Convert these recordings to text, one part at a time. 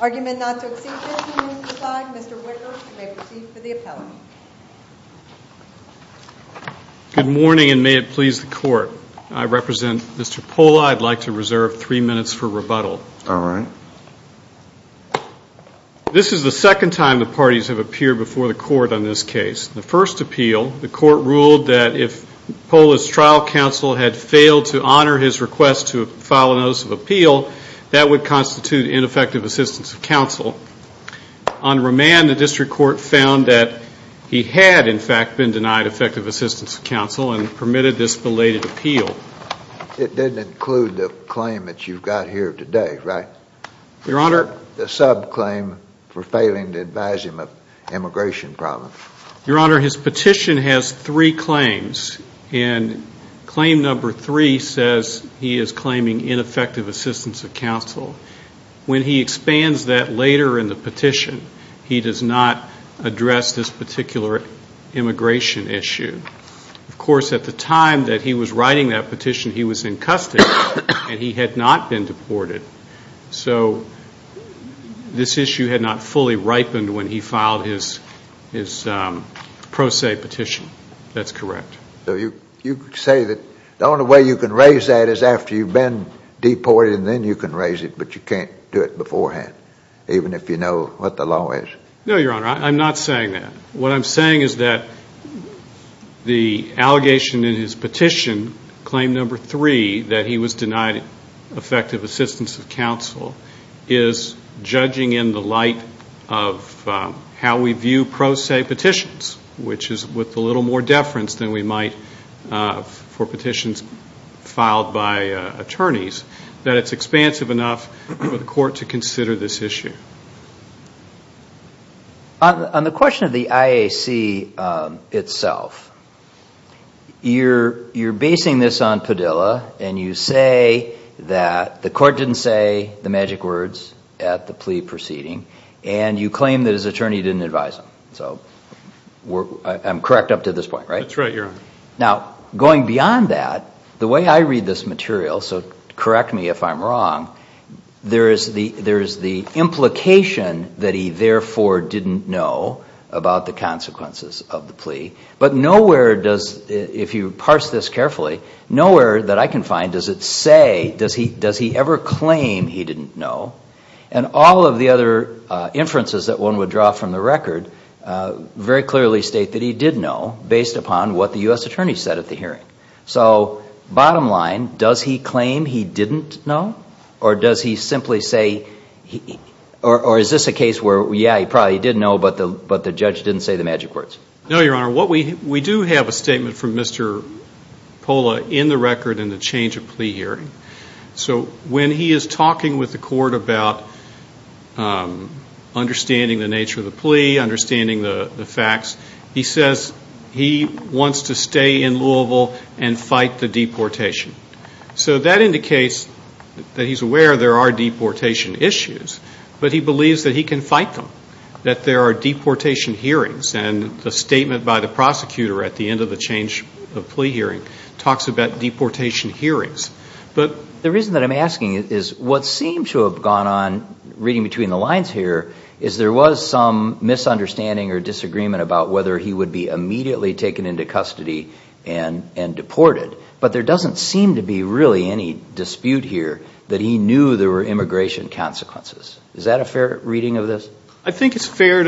Argument not to exceed 50 minutes of the slide, Mr. Wicker, you may proceed for the appellate. Good morning and may it please the court. I represent Mr. Pola. I'd like to reserve three minutes for rebuttal. This is the second time the parties have appeared before the court on this case. The first appeal, the court ruled that if Pola's trial counsel had failed to honor his request to file a notice of appeal, on remand the district court found that he had, in fact, been denied effective assistance of counsel and permitted this belated appeal. It didn't include the claim that you've got here today, right? Your Honor. The subclaim for failing to advise him of immigration problems. Your Honor, his petition has three claims and claim number three says he is claiming ineffective assistance of counsel. When he expands that later in the petition, he does not address this particular immigration issue. Of course, at the time that he was writing that petition, he was in custody and he had not been deported. So this issue had not fully ripened when he filed his pro se petition. That's correct. So you say that the only way you can raise that is after you've been deported and then you can raise it, but you can't do it beforehand even if you know what the law is. No, Your Honor, I'm not saying that. What I'm saying is that the allegation in his petition, claim number three, that he was denied effective assistance of counsel is judging in the light of how we view pro se petitions, which is with a little more deference than we might for petitions filed by attorneys, that it's expansive enough for the court to consider this issue. On the question of the IAC itself, you're basing this on Padilla and you say that the court didn't say the magic words at the plea proceeding and you claim that his attorney didn't advise him. So I'm correct up to this point, right? That's right, Your Honor. Now, going beyond that, the way I read this material, so correct me if I'm wrong, there is the implication that he therefore didn't know about the consequences of the plea, but nowhere does, if you parse this carefully, nowhere that I can find does it say, does he ever claim he didn't know? And all of the other inferences that one would draw from the record very clearly state that he did know based upon what the U.S. attorney said at the hearing. So bottom line, does he claim he didn't know or does he simply say, or is this a case where, yeah, he probably did know but the judge didn't say the magic words? No, Your Honor. We do have a statement from Mr. Pola in the record in the change of plea hearing. So when he is talking with the court about understanding the nature of the plea, understanding the facts, he says he wants to stay in Louisville and fight the deportation. So that indicates that he's aware there are deportation issues, but he believes that he can fight them, that there are deportation hearings and the statement by the prosecutor at the end of the change of plea hearing talks about deportation hearings. But the reason that I'm asking is what seems to have gone on, reading between the lines here, is there was some misunderstanding or disagreement about whether he would be immediately taken into custody and deported, but there doesn't seem to be really any dispute here that he knew there were immigration consequences. Is that a fair reading of this? I think it's fair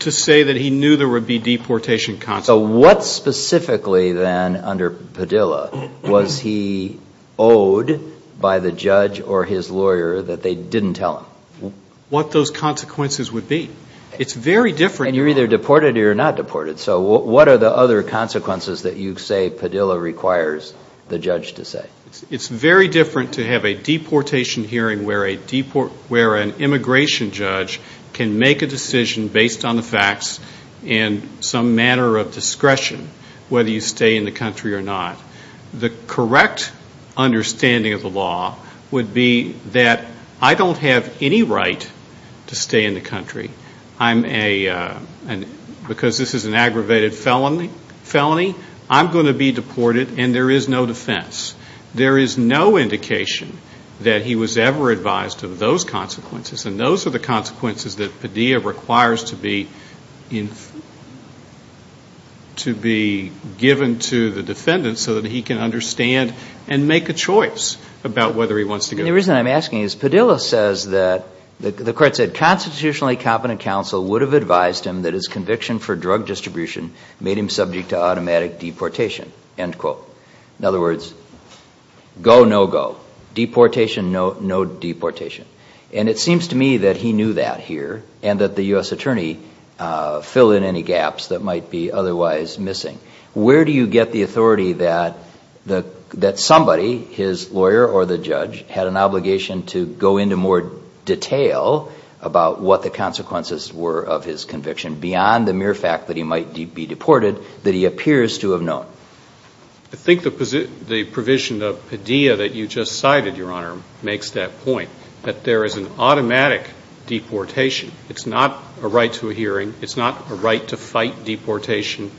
to say that he knew there would be deportation consequences. So what specifically then under Padilla was he owed by the judge or his lawyer that they didn't tell him? What those consequences would be. It's very different. And you're either deported or you're not deported. So what are the other consequences that you say Padilla requires the judge to say? It's very different to have a deportation hearing where an immigration judge can make a decision based on the facts and some manner of discretion whether you stay in the country or not. The correct understanding of the law would be that I don't have any right to stay in the country. Because this is an aggravated felony, I'm going to be deported and there is no defense. There is no indication that he was ever advised of those consequences, and those are the consequences that Padilla requires to be given to the defendant so that he can understand and make a choice about whether he wants to go. And the reason I'm asking is Padilla says that, the court said, constitutionally competent counsel would have advised him that his conviction for drug distribution made him subject to automatic deportation, end quote. In other words, go, no go. Deportation, no deportation. And it seems to me that he knew that here and that the U.S. attorney filled in any gaps that might be otherwise missing. Where do you get the authority that somebody, his lawyer or the judge, had an obligation to go into more detail about what the consequences were of his conviction beyond the mere fact that he might be deported that he appears to have known? I think the provision of Padilla that you just cited, Your Honor, makes that point, that there is an automatic deportation. It's not a right to a hearing. It's not a right to fight deportation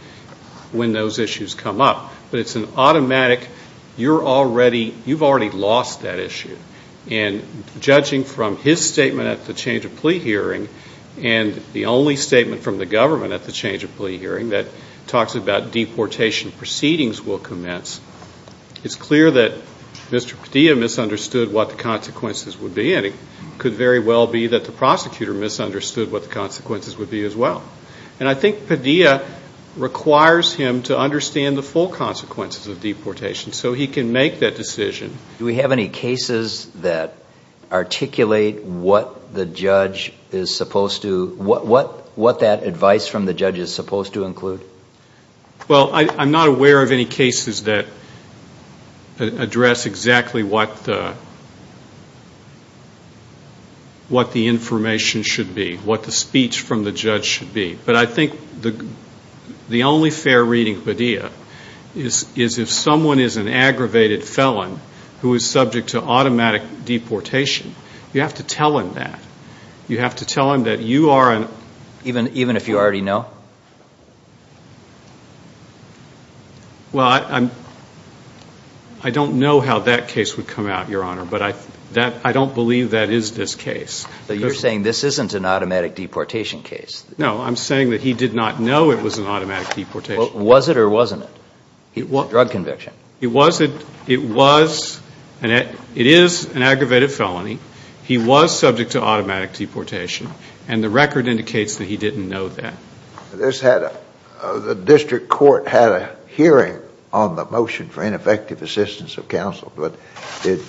when those issues come up. But it's an automatic, you're already, you've already lost that issue. And judging from his statement at the change of plea hearing and the only statement from the government at the change of plea hearing that talks about deportation proceedings will commence, it's clear that Mr. Padilla misunderstood what the consequences would be. And it could very well be that the prosecutor misunderstood what the consequences would be as well. And I think Padilla requires him to understand the full consequences of deportation so he can make that decision. Do we have any cases that articulate what the judge is supposed to, what that advice from the judge is supposed to include? Well, I'm not aware of any cases that address exactly what the information should be, what the speech from the judge should be. But I think the only fair reading, Padilla, is if someone is an aggravated felon who is subject to automatic deportation, you have to tell him that. You have to tell him that you are an. Even if you already know? Well, I don't know how that case would come out, Your Honor. But I don't believe that is this case. But you're saying this isn't an automatic deportation case. No, I'm saying that he did not know it was an automatic deportation case. Was it or wasn't it? Drug conviction. It was, it is an aggravated felony. He was subject to automatic deportation, and the record indicates that he didn't know that. The district court had a hearing on the motion for ineffective assistance of counsel, but did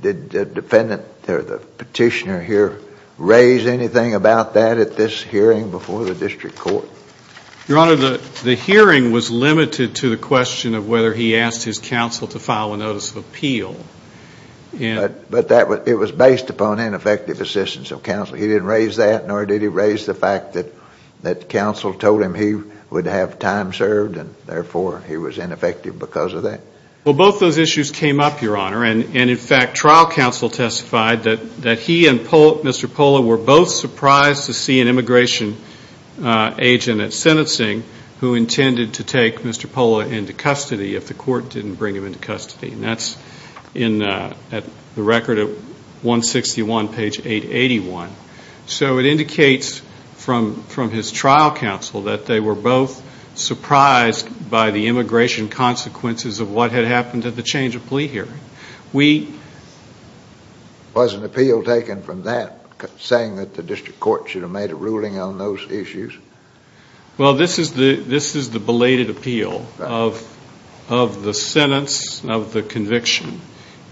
the petitioner here raise anything about that at this hearing before the district court? Your Honor, the hearing was limited to the question of whether he asked his counsel to file a notice of appeal. But it was based upon ineffective assistance of counsel. He didn't raise that, nor did he raise the fact that counsel told him he would have time served, and therefore he was ineffective because of that. Well, both those issues came up, Your Honor, and in fact trial counsel testified that he and Mr. Pola were both surprised to see an immigration agent at sentencing who intended to take Mr. Pola into custody if the court didn't bring him into custody. And that's in the record at 161, page 881. So it indicates from his trial counsel that they were both surprised by the immigration consequences of what had happened at the change of plea hearing. Was an appeal taken from that, saying that the district court should have made a ruling on those issues? Well, this is the belated appeal of the sentence, of the conviction,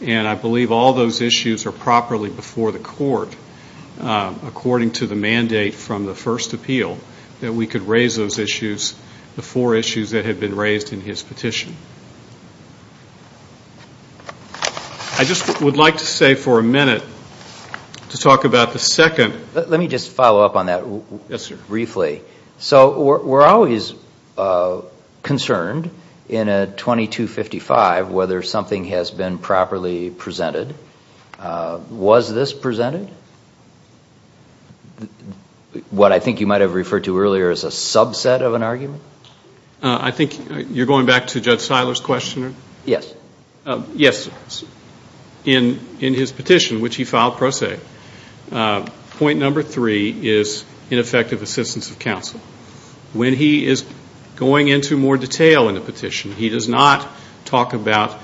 and I believe all those issues are properly before the court according to the mandate from the first appeal that we could raise those issues, the four issues that had been raised in his petition. I just would like to say for a minute to talk about the second. Let me just follow up on that briefly. So we're always concerned in a 2255 whether something has been properly presented. Was this presented? What I think you might have referred to earlier as a subset of an argument? I think you're going back to Judge Seiler's question? Yes. Yes. In his petition, which he filed pro se, point number three is ineffective assistance of counsel. When he is going into more detail in the petition, he does not talk about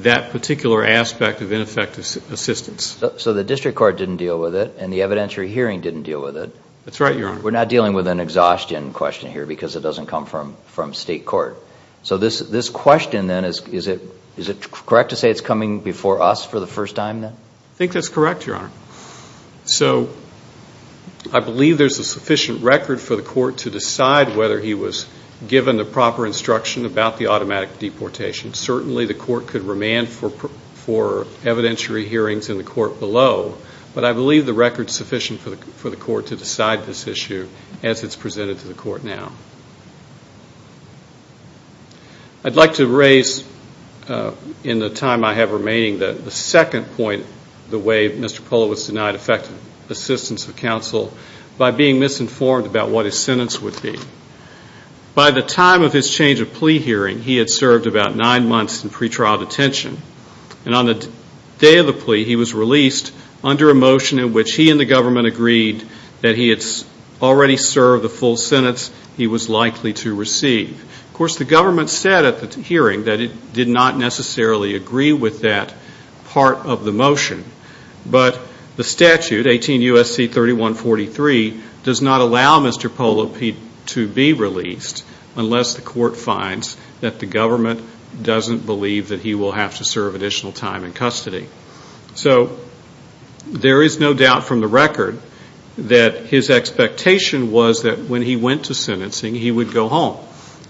that particular aspect of ineffective assistance. So the district court didn't deal with it, and the evidentiary hearing didn't deal with it. That's right, Your Honor. We're not dealing with an exhaustion question here because it doesn't come from state court. So this question then, is it correct to say it's coming before us for the first time then? I think that's correct, Your Honor. So I believe there's a sufficient record for the court to decide whether he was given the proper instruction about the automatic deportation. Certainly the court could remand for evidentiary hearings in the court below, but I believe the record is sufficient for the court to decide this issue as it's presented to the court now. I'd like to raise in the time I have remaining the second point, the way Mr. Polowitz denied effective assistance of counsel, by being misinformed about what his sentence would be. By the time of his change of plea hearing, he had served about nine months in pretrial detention. And on the day of the plea, he was released under a motion in which he and the government agreed that he had already served the full sentence he was likely to receive. Of course, the government said at the hearing that it did not necessarily agree with that part of the motion. But the statute, 18 U.S.C. 3143, does not allow Mr. Polowitz to be released unless the court finds that the government doesn't believe that he will have to serve additional time in custody. So there is no doubt from the record that his expectation was that when he went to sentencing, he would go home,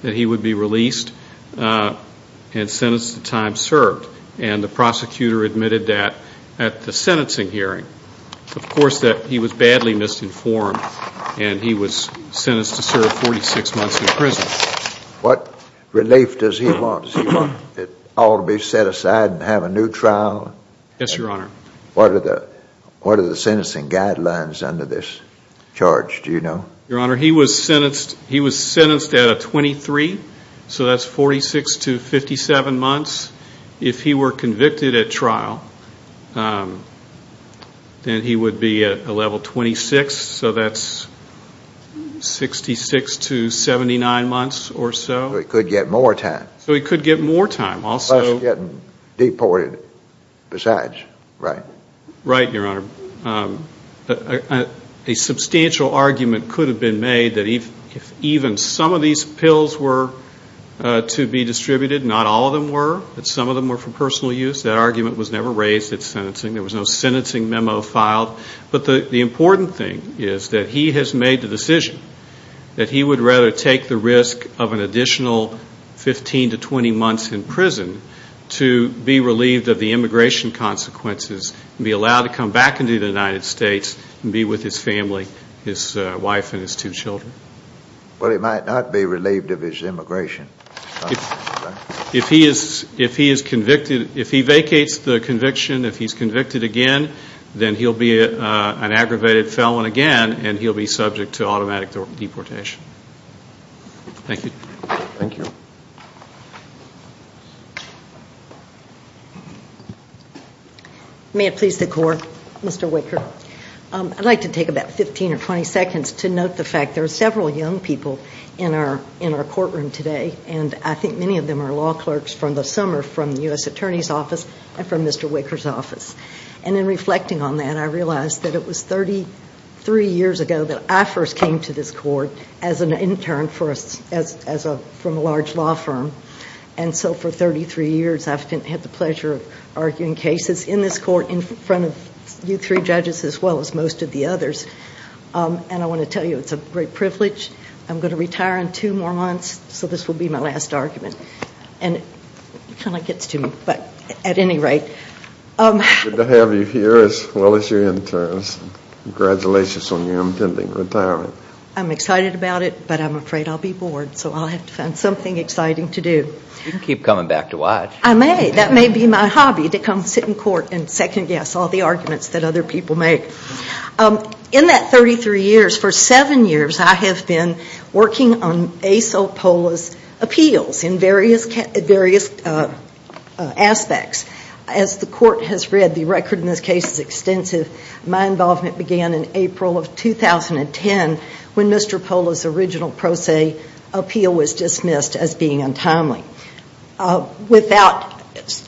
that he would be released and sentenced to time served. And the prosecutor admitted that at the sentencing hearing, of course, that he was badly misinformed and he was sentenced to serve 46 months in prison. What relief does he want? Does he want it all to be set aside and have a new trial? Yes, Your Honor. What are the sentencing guidelines under this charge, do you know? Your Honor, he was sentenced at a 23, so that's 46 to 57 months. If he were convicted at trial, then he would be at a level 26, so that's 66 to 79 months or so. So he could get more time. So he could get more time. Unless he's getting deported besides, right? Right, Your Honor. A substantial argument could have been made that if even some of these pills were to be distributed, not all of them were, but some of them were for personal use. That argument was never raised at sentencing. There was no sentencing memo filed. But the important thing is that he has made the decision that he would rather take the risk of an additional 15 to 20 months in prison to be relieved of the immigration consequences and be allowed to come back into the United States and be with his family, his wife and his two children. Well, he might not be relieved of his immigration. If he vacates the conviction, if he's convicted again, then he'll be an aggravated felon again and he'll be subject to automatic deportation. Thank you. Thank you. May it please the Court, Mr. Wicker. I'd like to take about 15 or 20 seconds to note the fact there are several young people in our courtroom today and I think many of them are law clerks from the summer from the U.S. Attorney's Office and from Mr. Wicker's office. And in reflecting on that, I realize that it was 33 years ago that I first came to this court as an intern from a large law firm. And so for 33 years, I've had the pleasure of arguing cases in this court in front of you three judges as well as most of the others. And I want to tell you it's a great privilege. I'm going to retire in two more months, so this will be my last argument. And it kind of gets to me, but at any rate. Good to have you here as well as your interns. Congratulations on your impending retirement. I'm excited about it, but I'm afraid I'll be bored, so I'll have to find something exciting to do. You can keep coming back to watch. I may. That may be my hobby to come sit in court and second-guess all the arguments that other people make. In that 33 years, for seven years, I have been working on Ace O'Polla's appeals in various aspects. As the court has read, the record in this case is extensive. My involvement began in April of 2010 when Mr. O'Polla's original pro se appeal was dismissed as being untimely. Without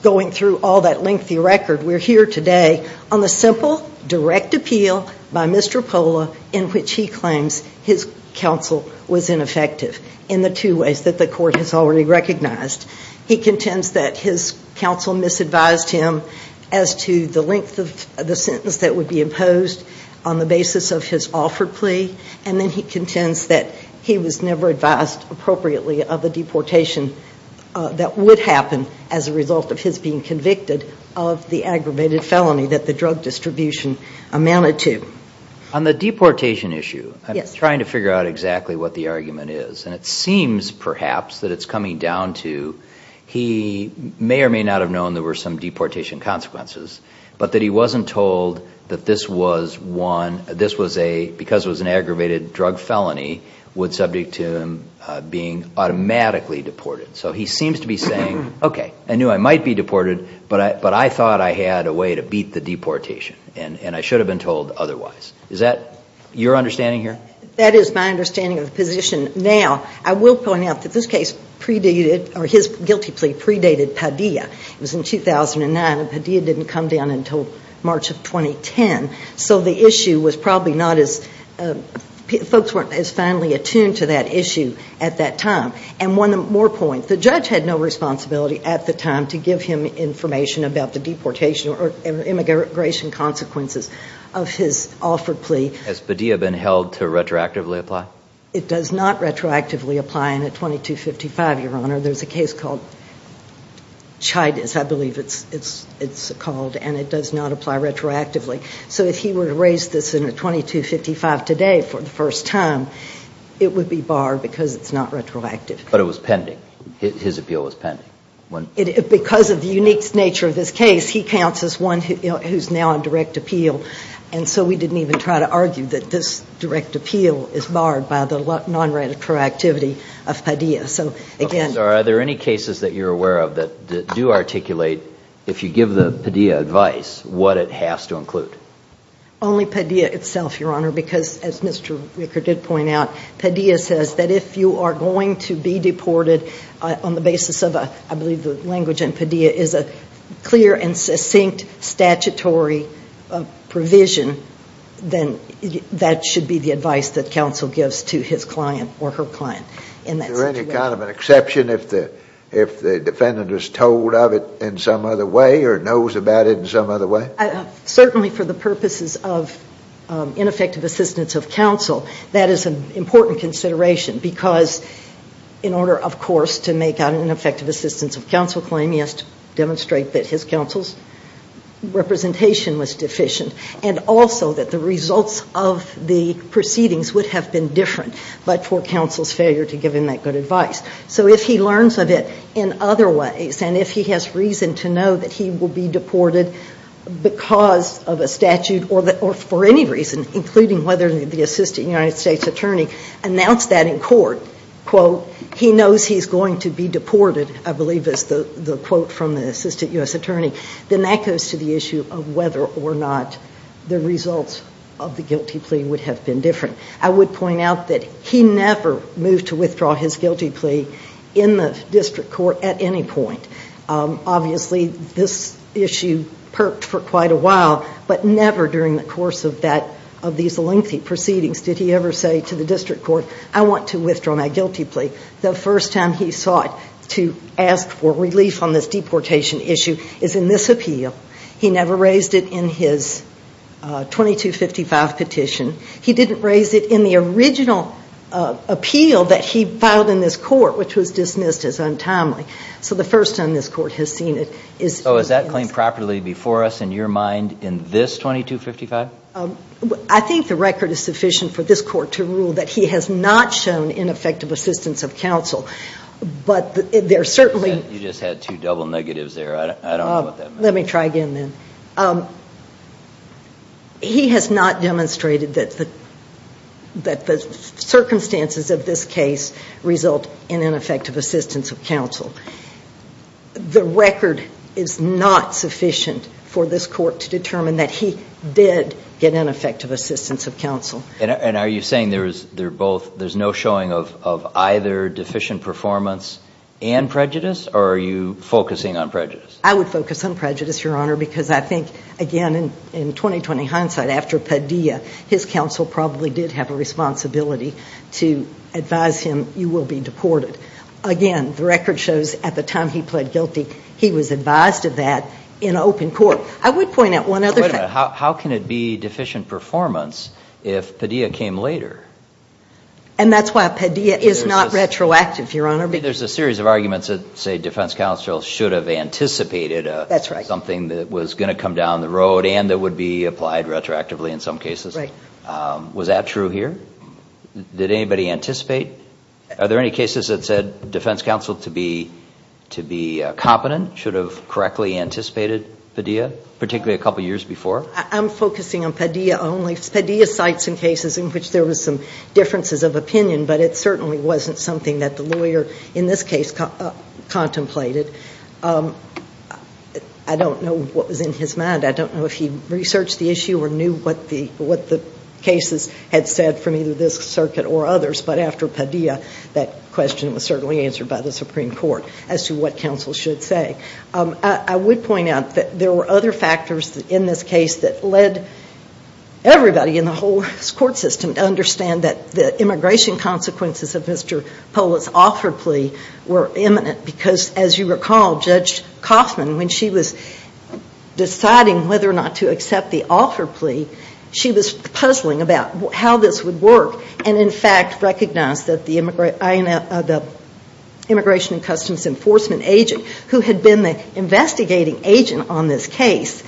going through all that lengthy record, we're here today on the simple, direct appeal by Mr. O'Polla in which he claims his counsel was ineffective in the two ways that the court has already recognized. He contends that his counsel misadvised him as to the length of the sentence that would be imposed on the basis of his offer plea. Then he contends that he was never advised appropriately of a deportation that would happen as a result of his being convicted of the aggravated felony that the drug distribution amounted to. On the deportation issue, I'm trying to figure out exactly what the argument is. It seems, perhaps, that it's coming down to he may or may not have known there were some deportation consequences, but that he wasn't told that this was one, this was a, because it was an aggravated drug felony, would subject to him being automatically deported. So he seems to be saying, okay, I knew I might be deported, but I thought I had a way to beat the deportation, and I should have been told otherwise. Is that your understanding here? That is my understanding of the position. Now, I will point out that this case predated, or his guilty plea predated Padilla. It was in 2009, and Padilla didn't come down until March of 2010. So the issue was probably not as, folks weren't as finely attuned to that issue at that time. And one more point, the judge had no responsibility at the time to give him information about the deportation or immigration consequences of his offer plea. Has Padilla been held to retroactively apply? There's a case called Chidas, I believe it's called, and it does not apply retroactively. So if he were to raise this in a 2255 today for the first time, it would be barred because it's not retroactive. But it was pending. His appeal was pending. Because of the unique nature of this case, he counts as one who's now on direct appeal. And so we didn't even try to argue that this direct appeal is barred by the non-retroactivity of Padilla. Are there any cases that you're aware of that do articulate, if you give the Padilla advice, what it has to include? Only Padilla itself, Your Honor, because as Mr. Ricker did point out, Padilla says that if you are going to be deported on the basis of, I believe the language in Padilla is a clear and succinct statutory provision, then that should be the advice that counsel gives to his client or her client. Is there any kind of an exception if the defendant is told of it in some other way or knows about it in some other way? Certainly for the purposes of ineffective assistance of counsel, that is an important consideration. Because in order, of course, to make an ineffective assistance of counsel claim, he has to demonstrate that his counsel's representation was deficient. And also that the results of the proceedings would have been different but for counsel's failure to give him that good advice. So if he learns of it in other ways and if he has reason to know that he will be deported because of a statute or for any reason, including whether the Assistant United States Attorney announced that in court, quote, he knows he's going to be deported, I believe is the quote from the Assistant U.S. Attorney, then that goes to the issue of whether or not the results of the guilty plea would have been different. I would point out that he never moved to withdraw his guilty plea in the district court at any point. Obviously this issue perked for quite a while, but never during the course of that, of these lengthy proceedings, did he ever say to the district court, I want to withdraw my guilty plea. The first time he sought to ask for relief on this deportation issue is in this appeal. He never raised it in his 2255 petition. He didn't raise it in the original appeal that he filed in this court, which was dismissed as untimely. So the first time this court has seen it is in this. So is that claim properly before us in your mind in this 2255? I think the record is sufficient for this court to rule that he has not shown ineffective assistance of counsel. But there certainly... You just had two double negatives there. I don't know what that means. Let me try again then. He has not demonstrated that the circumstances of this case result in ineffective assistance of counsel. The record is not sufficient for this court to determine that he did get ineffective assistance of counsel. And are you saying there's no showing of either deficient performance and prejudice? Or are you focusing on prejudice? I would focus on prejudice, Your Honor, because I think, again, in 20-20 hindsight, after Padilla, his counsel probably did have a responsibility to advise him, you will be deported. Again, the record shows at the time he pled guilty, he was advised of that in open court. I would point out one other thing. How can it be deficient performance if Padilla came later? And that's why Padilla is not retroactive, Your Honor. There's a series of arguments that say defense counsel should have anticipated something that was going to come down the road and that would be applied retroactively in some cases. Was that true here? Did anybody anticipate? Are there any cases that said defense counsel to be competent, should have correctly anticipated Padilla, particularly a couple years before? I'm focusing on Padilla only. Padilla cites some cases in which there was some differences of opinion, but it certainly wasn't something that the lawyer in this case contemplated. I don't know what was in his mind. I don't know if he researched the issue or knew what the cases had said from either this circuit or others. But after Padilla, that question was certainly answered by the Supreme Court as to what counsel should say. I would point out that there were other factors in this case that led everybody in the whole court system to understand that the immigration consequences of Mr. Pollitt's offer plea were imminent because, as you recall, Judge Kaufman, when she was deciding whether or not to accept the offer plea, she was puzzling about how this would work and in fact recognized that the Immigration and Customs Enforcement agent, who had been the investigating agent on this case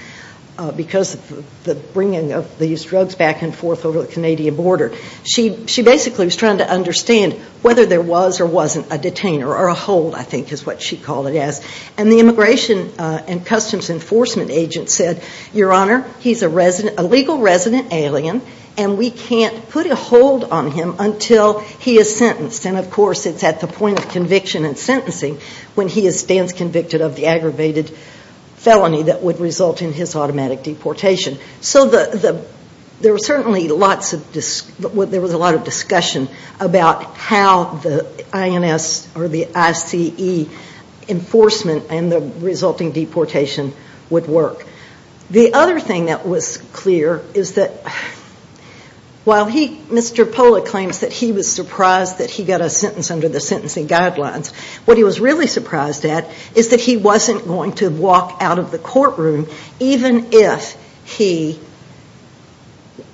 because of the bringing of these drugs back and forth over the Canadian border, she basically was trying to understand whether there was or wasn't a detainer or a hold, I think is what she called it. And the Immigration and Customs Enforcement agent said, Your Honor, he's a legal resident alien and we can't put a hold on him until he is sentenced. And of course it's at the point of conviction and sentencing when he stands convicted of the aggravated felony that would result in his automatic deportation. So there was certainly a lot of discussion about how the INS or the ICE enforcement and the resulting deportation would work. The other thing that was clear is that while Mr. Pollitt claims that he was surprised that he got a sentence under the sentencing guidelines, what he was really surprised at is that he wasn't going to walk out of the courtroom even if he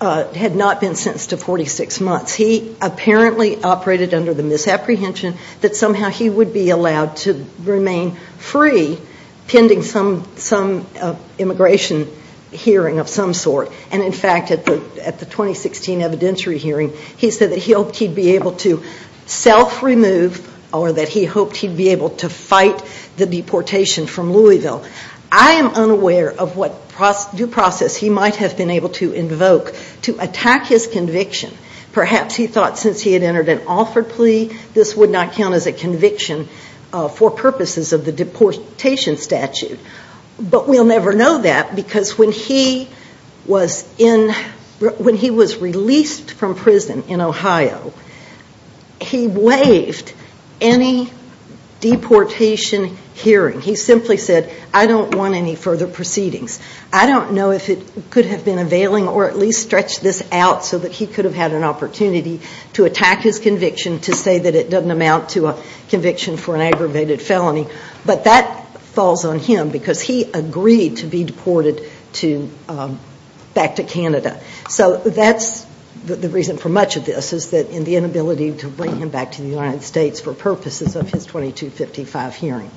had not been sentenced to 46 months. He apparently operated under the misapprehension that somehow he would be allowed to remain free pending some immigration hearing of some sort. And in fact, at the 2016 evidentiary hearing, he said that he hoped he'd be able to self-remove or that he hoped he'd be able to fight the deportation from Louisville. I am unaware of what due process he might have been able to invoke to attack his conviction. Perhaps he thought since he had entered an offered plea, this would not count as a conviction for purposes of the deportation statute. But we'll never know that because when he was released from prison in Ohio, he waived any deportation hearing. He simply said, I don't want any further proceedings. I don't know if it could have been a veiling or at least stretched this out so that he could have had an opportunity to attack his conviction to say that it doesn't amount to a conviction for an aggravated felony. But that falls on him because he agreed to be deported back to Canada. So that's the reason for much of this is the inability to bring him back to the United States for purposes of his 2255 hearing.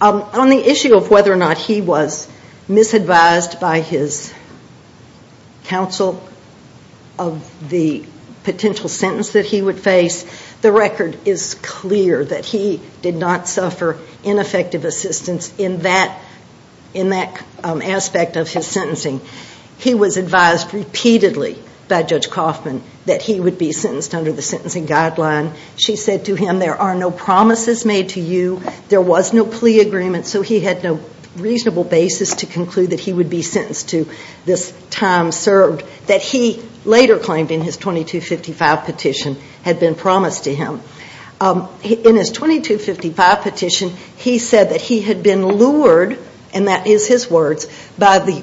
On the issue of whether or not he was misadvised by his counsel of the potential sentence that he would face, the record is clear that he did not suffer ineffective assistance in that aspect of his sentencing. He was advised repeatedly by Judge Kaufman that he would be sentenced under the sentencing guideline. She said to him, there are no promises made to you. There was no plea agreement, so he had no reasonable basis to conclude that he would be sentenced to this time served that he later claimed in his 2255 petition had been promised to him. In his 2255 petition, he said that he had been lured, and that is his words, by the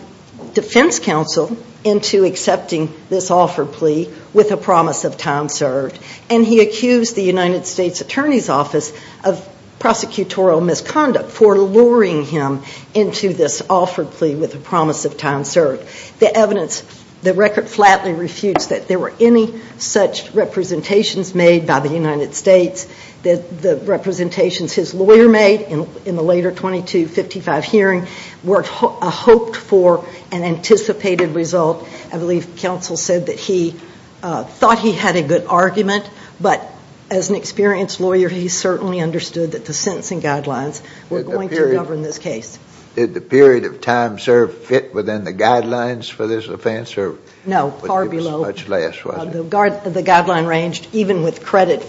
defense counsel into accepting this offer plea with a promise of time served. And he accused the United States Attorney's Office of prosecutorial misconduct for luring him into this offer plea with a promise of time served. The evidence, the record flatly refutes that there were any such representations made by the United States. The representations his lawyer made in the later 2255 hearing were hoped for an anticipated result. I believe counsel said that he thought he had a good argument, but as an experienced lawyer, he certainly understood that the sentencing guidelines were going to govern this case. Did the period of time served fit within the guidelines for this offense? No, far below. Much less, was it? The guideline ranged, even with credit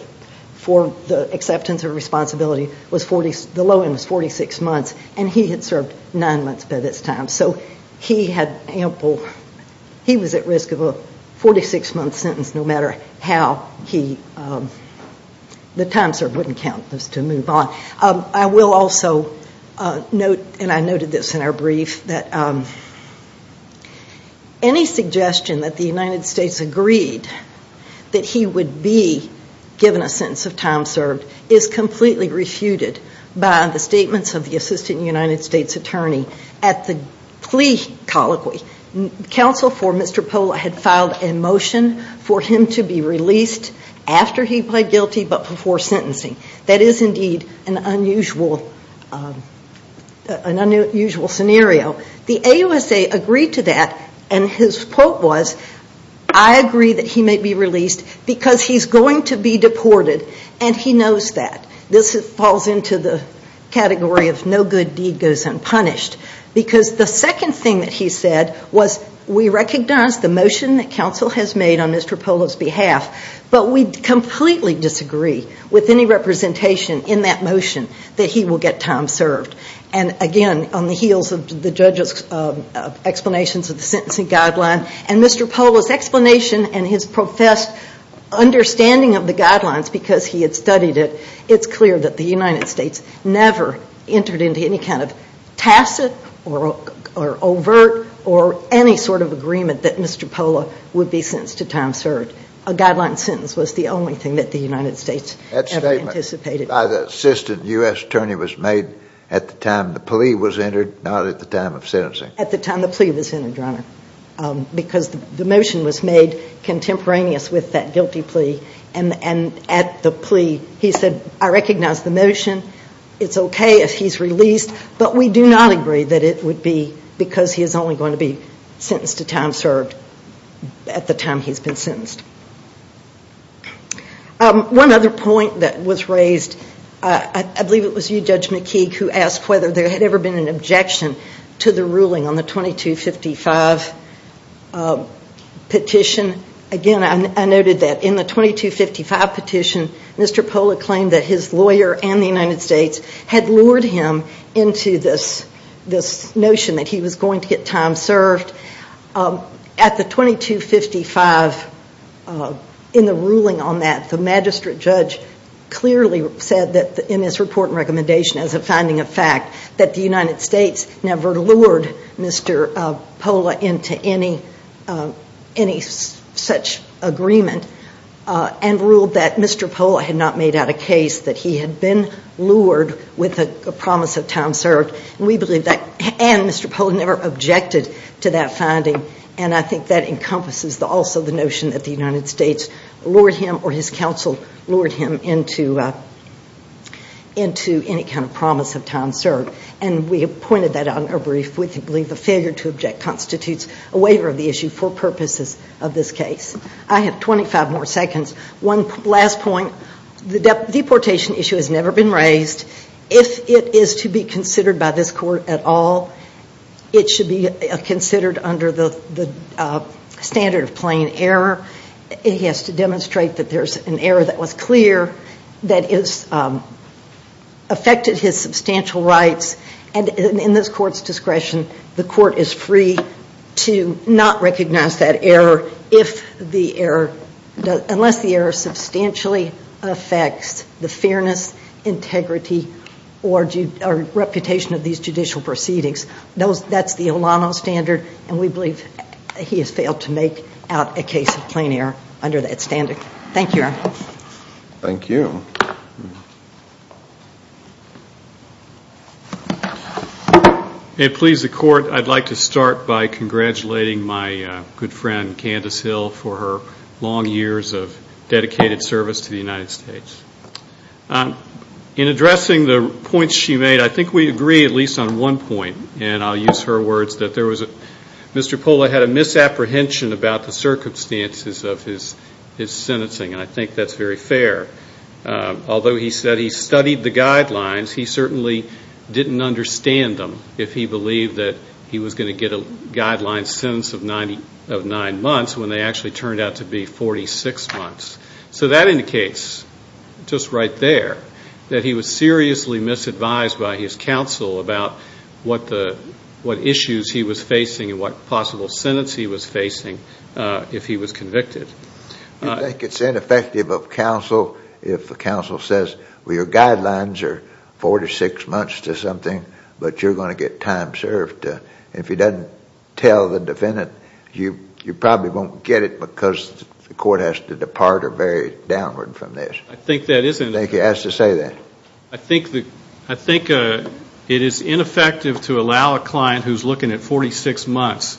for the acceptance of responsibility, the low end was 46 months, and he had served nine months by this time. So he had ample, he was at risk of a 46-month sentence no matter how he, the time served wouldn't count as to move on. I will also note, and I noted this in our brief, that any suggestion that the United States agreed that he would be given a sentence of time served is completely refuted by the statements of the Assistant United States Attorney at the plea colloquy. Counsel for Mr. Pola had filed a motion for him to be released after he pled guilty but before sentencing. That is indeed an unusual scenario. The AUSA agreed to that, and his quote was, I agree that he may be released because he's going to be deported, and he knows that. This falls into the category of no good deed goes unpunished. Because the second thing that he said was, we recognize the motion that counsel has made on Mr. Pola's behalf, but we completely disagree with any representation in that motion that he will get time served. And again, on the heels of the judge's explanations of the sentencing guideline and Mr. Pola's explanation and his professed understanding of the guidelines because he had studied it, it's clear that the United States never entered into any kind of tacit or overt or any sort of agreement that Mr. Pola would be sentenced to time served. A guideline sentence was the only thing that the United States ever anticipated. That statement by the assistant U.S. attorney was made at the time the plea was entered, not at the time of sentencing. At the time the plea was entered, Your Honor, because the motion was made contemporaneous with that guilty plea. And at the plea, he said, I recognize the motion. It's okay if he's released, but we do not agree that it would be because he is only going to be sentenced to time served at the time he's been sentenced. One other point that was raised, I believe it was you, Judge McKeague, who asked whether there had ever been an objection to the ruling on the 2255 petition. Again, I noted that in the 2255 petition, Mr. Pola claimed that his lawyer and the United States had lured him into this notion that he was going to get time served. At the 2255, in the ruling on that, the magistrate judge clearly said in his report and recommendation as a finding of fact that the United States never lured Mr. Pola into any such agreement and ruled that Mr. Pola had not made out a case that he had been lured with a promise of time served. And we believe that Mr. Pola never objected to that finding. And I think that encompasses also the notion that the United States lured him or his counsel lured him into any kind of promise of time served. And we have pointed that out in our brief. We believe the failure to object constitutes a waiver of the issue for purposes of this case. I have 25 more seconds. One last point. The deportation issue has never been raised. If it is to be considered by this court at all, it should be considered under the standard of plain error. It has to demonstrate that there's an error that was clear that has affected his substantial rights. And in this court's discretion, the court is free to not recognize that error unless the error substantially affects the fairness, integrity, or reputation of these judicial proceedings. That's the Olano standard, and we believe he has failed to make out a case of plain error under that standard. Thank you, Your Honor. Thank you. May it please the Court, I'd like to start by congratulating my good friend, Candice Hill, for her long years of dedicated service to the United States. In addressing the points she made, I think we agree, at least on one point, and I'll use her words, that Mr. Pola had a misapprehension about the circumstances of his sentencing. And I think that's very fair. Although he said he studied the guidelines, he certainly didn't understand them, if he believed that he was going to get a guideline sentence of nine months when they actually turned out to be 46 months. So that indicates, just right there, that he was seriously misadvised by his counsel about what issues he was facing and what possible sentence he was facing if he was convicted. You think it's ineffective of counsel if the counsel says, well, your guidelines are 46 months to something, but you're going to get time served. If he doesn't tell the defendant, you probably won't get it because the court has to depart or vary downward from this. I think that is ineffective. I think he has to say that. I think it is ineffective to allow a client who's looking at 46 months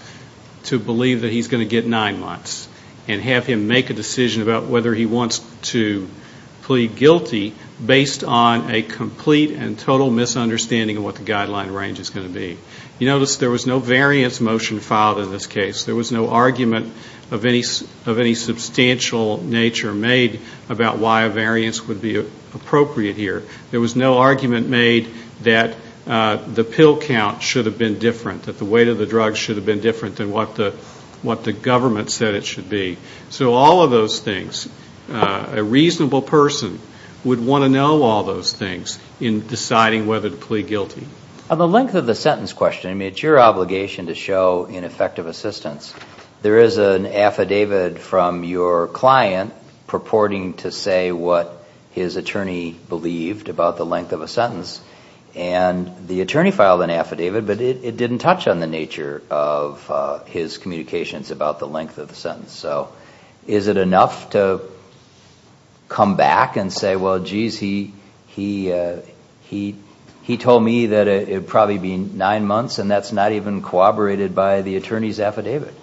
to believe that he's going to get nine months and have him make a decision about whether he wants to plead guilty based on a complete and total misunderstanding of what the guideline range is going to be. You notice there was no variance motion filed in this case. There was no argument of any substantial nature made about why a variance would be appropriate here. There was no argument made that the pill count should have been different, that the weight of the drug should have been different than what the government said it should be. So all of those things, a reasonable person would want to know all those things in deciding whether to plead guilty. On the length of the sentence question, it's your obligation to show ineffective assistance. There is an affidavit from your client purporting to say what his attorney believed about the length of a sentence, and the attorney filed an affidavit, but it didn't touch on the nature of his communications about the length of the sentence. So is it enough to come back and say, well, geez, he told me that it would probably be nine months, and that's not even corroborated by the attorney's affidavit?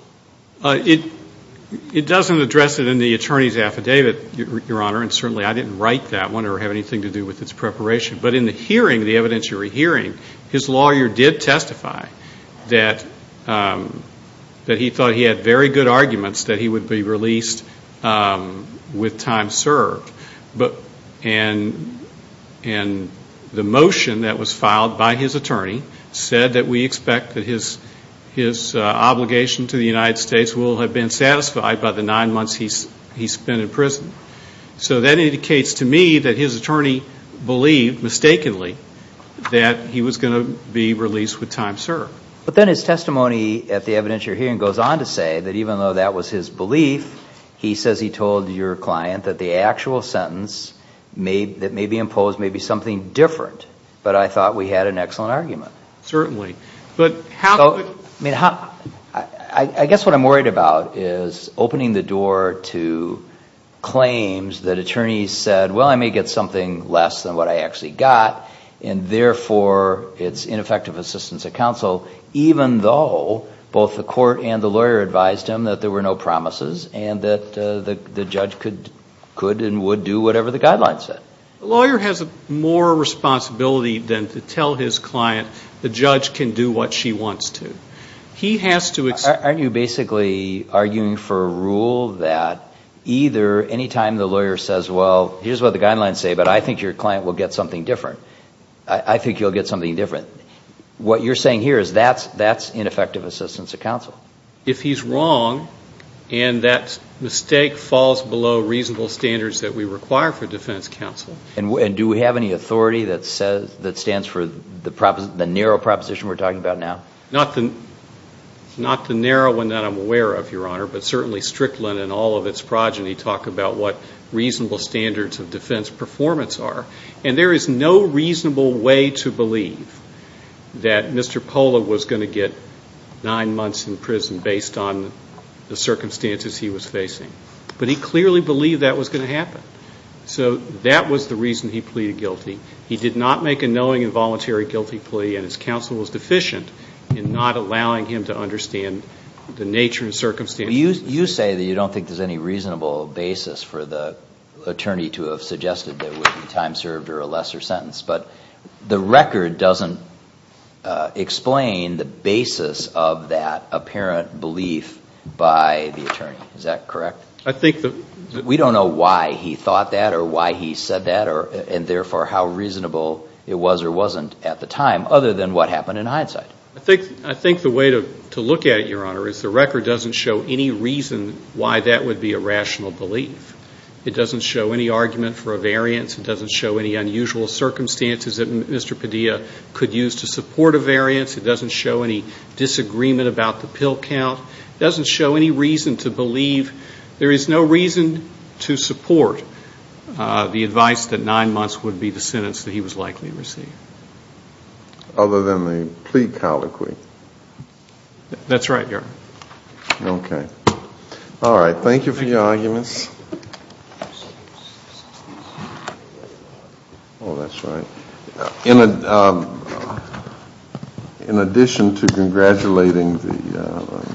It doesn't address it in the attorney's affidavit, Your Honor, and certainly I didn't write that one or have anything to do with its preparation. But in the hearing, the evidence you were hearing, his lawyer did testify that he thought he had very good arguments that he would be released with time served. And the motion that was filed by his attorney said that we expect that his obligation to the United States will have been satisfied by the nine months he spent in prison. So that indicates to me that his attorney believed, mistakenly, that he was going to be released with time served. But then his testimony at the evidence you're hearing goes on to say that even though that was his belief, he says he told your client that the actual sentence that may be imposed may be something different. But I thought we had an excellent argument. Certainly. I guess what I'm worried about is opening the door to claims that attorneys said, well, I may get something less than what I actually got, and therefore it's ineffective assistance at counsel, even though both the court and the lawyer advised him that there were no promises and that the judge could and would do whatever the guidelines said. The lawyer has more responsibility than to tell his client the judge can do what she wants to. He has to accept that. Aren't you basically arguing for a rule that either any time the lawyer says, well, here's what the guidelines say, but I think your client will get something different, I think you'll get something different, what you're saying here is that's ineffective assistance at counsel. If he's wrong and that mistake falls below reasonable standards that we require for defense counsel. And do we have any authority that stands for the narrow proposition we're talking about now? Not the narrow one that I'm aware of, Your Honor, but certainly Strickland and all of its progeny talk about what reasonable standards of defense performance are. And there is no reasonable way to believe that Mr. Pola was going to get nine months in prison based on the circumstances he was facing. But he clearly believed that was going to happen. So that was the reason he pleaded guilty. He did not make a knowing and voluntary guilty plea, and his counsel was deficient in not allowing him to understand the nature and circumstances. You say that you don't think there's any reasonable basis for the attorney to have suggested that it would be time served or a lesser sentence, but the record doesn't explain the basis of that apparent belief by the attorney. Is that correct? I think that... We don't know why he thought that or why he said that, and therefore how reasonable it was or wasn't at the time other than what happened in hindsight. I think the way to look at it, Your Honor, is the record doesn't show any reason why that would be a rational belief. It doesn't show any argument for a variance. It doesn't show any unusual circumstances that Mr. Padilla could use to support a variance. It doesn't show any disagreement about the pill count. It doesn't show any reason to believe. There is no reason to support the advice that nine months would be the sentence that he was likely to receive. Other than the plea colloquy. That's right, Your Honor. Okay. All right. Thank you for your arguments. Oh, that's right. In addition to congratulating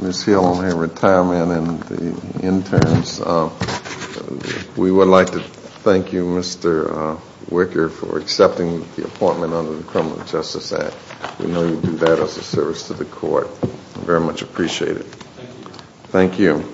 Ms. Hill on her retirement and the interns, we would like to thank you, Mr. Wicker, for accepting the appointment under the Criminal Justice Act. We know you do that as a service to the court. We very much appreciate it. Thank you.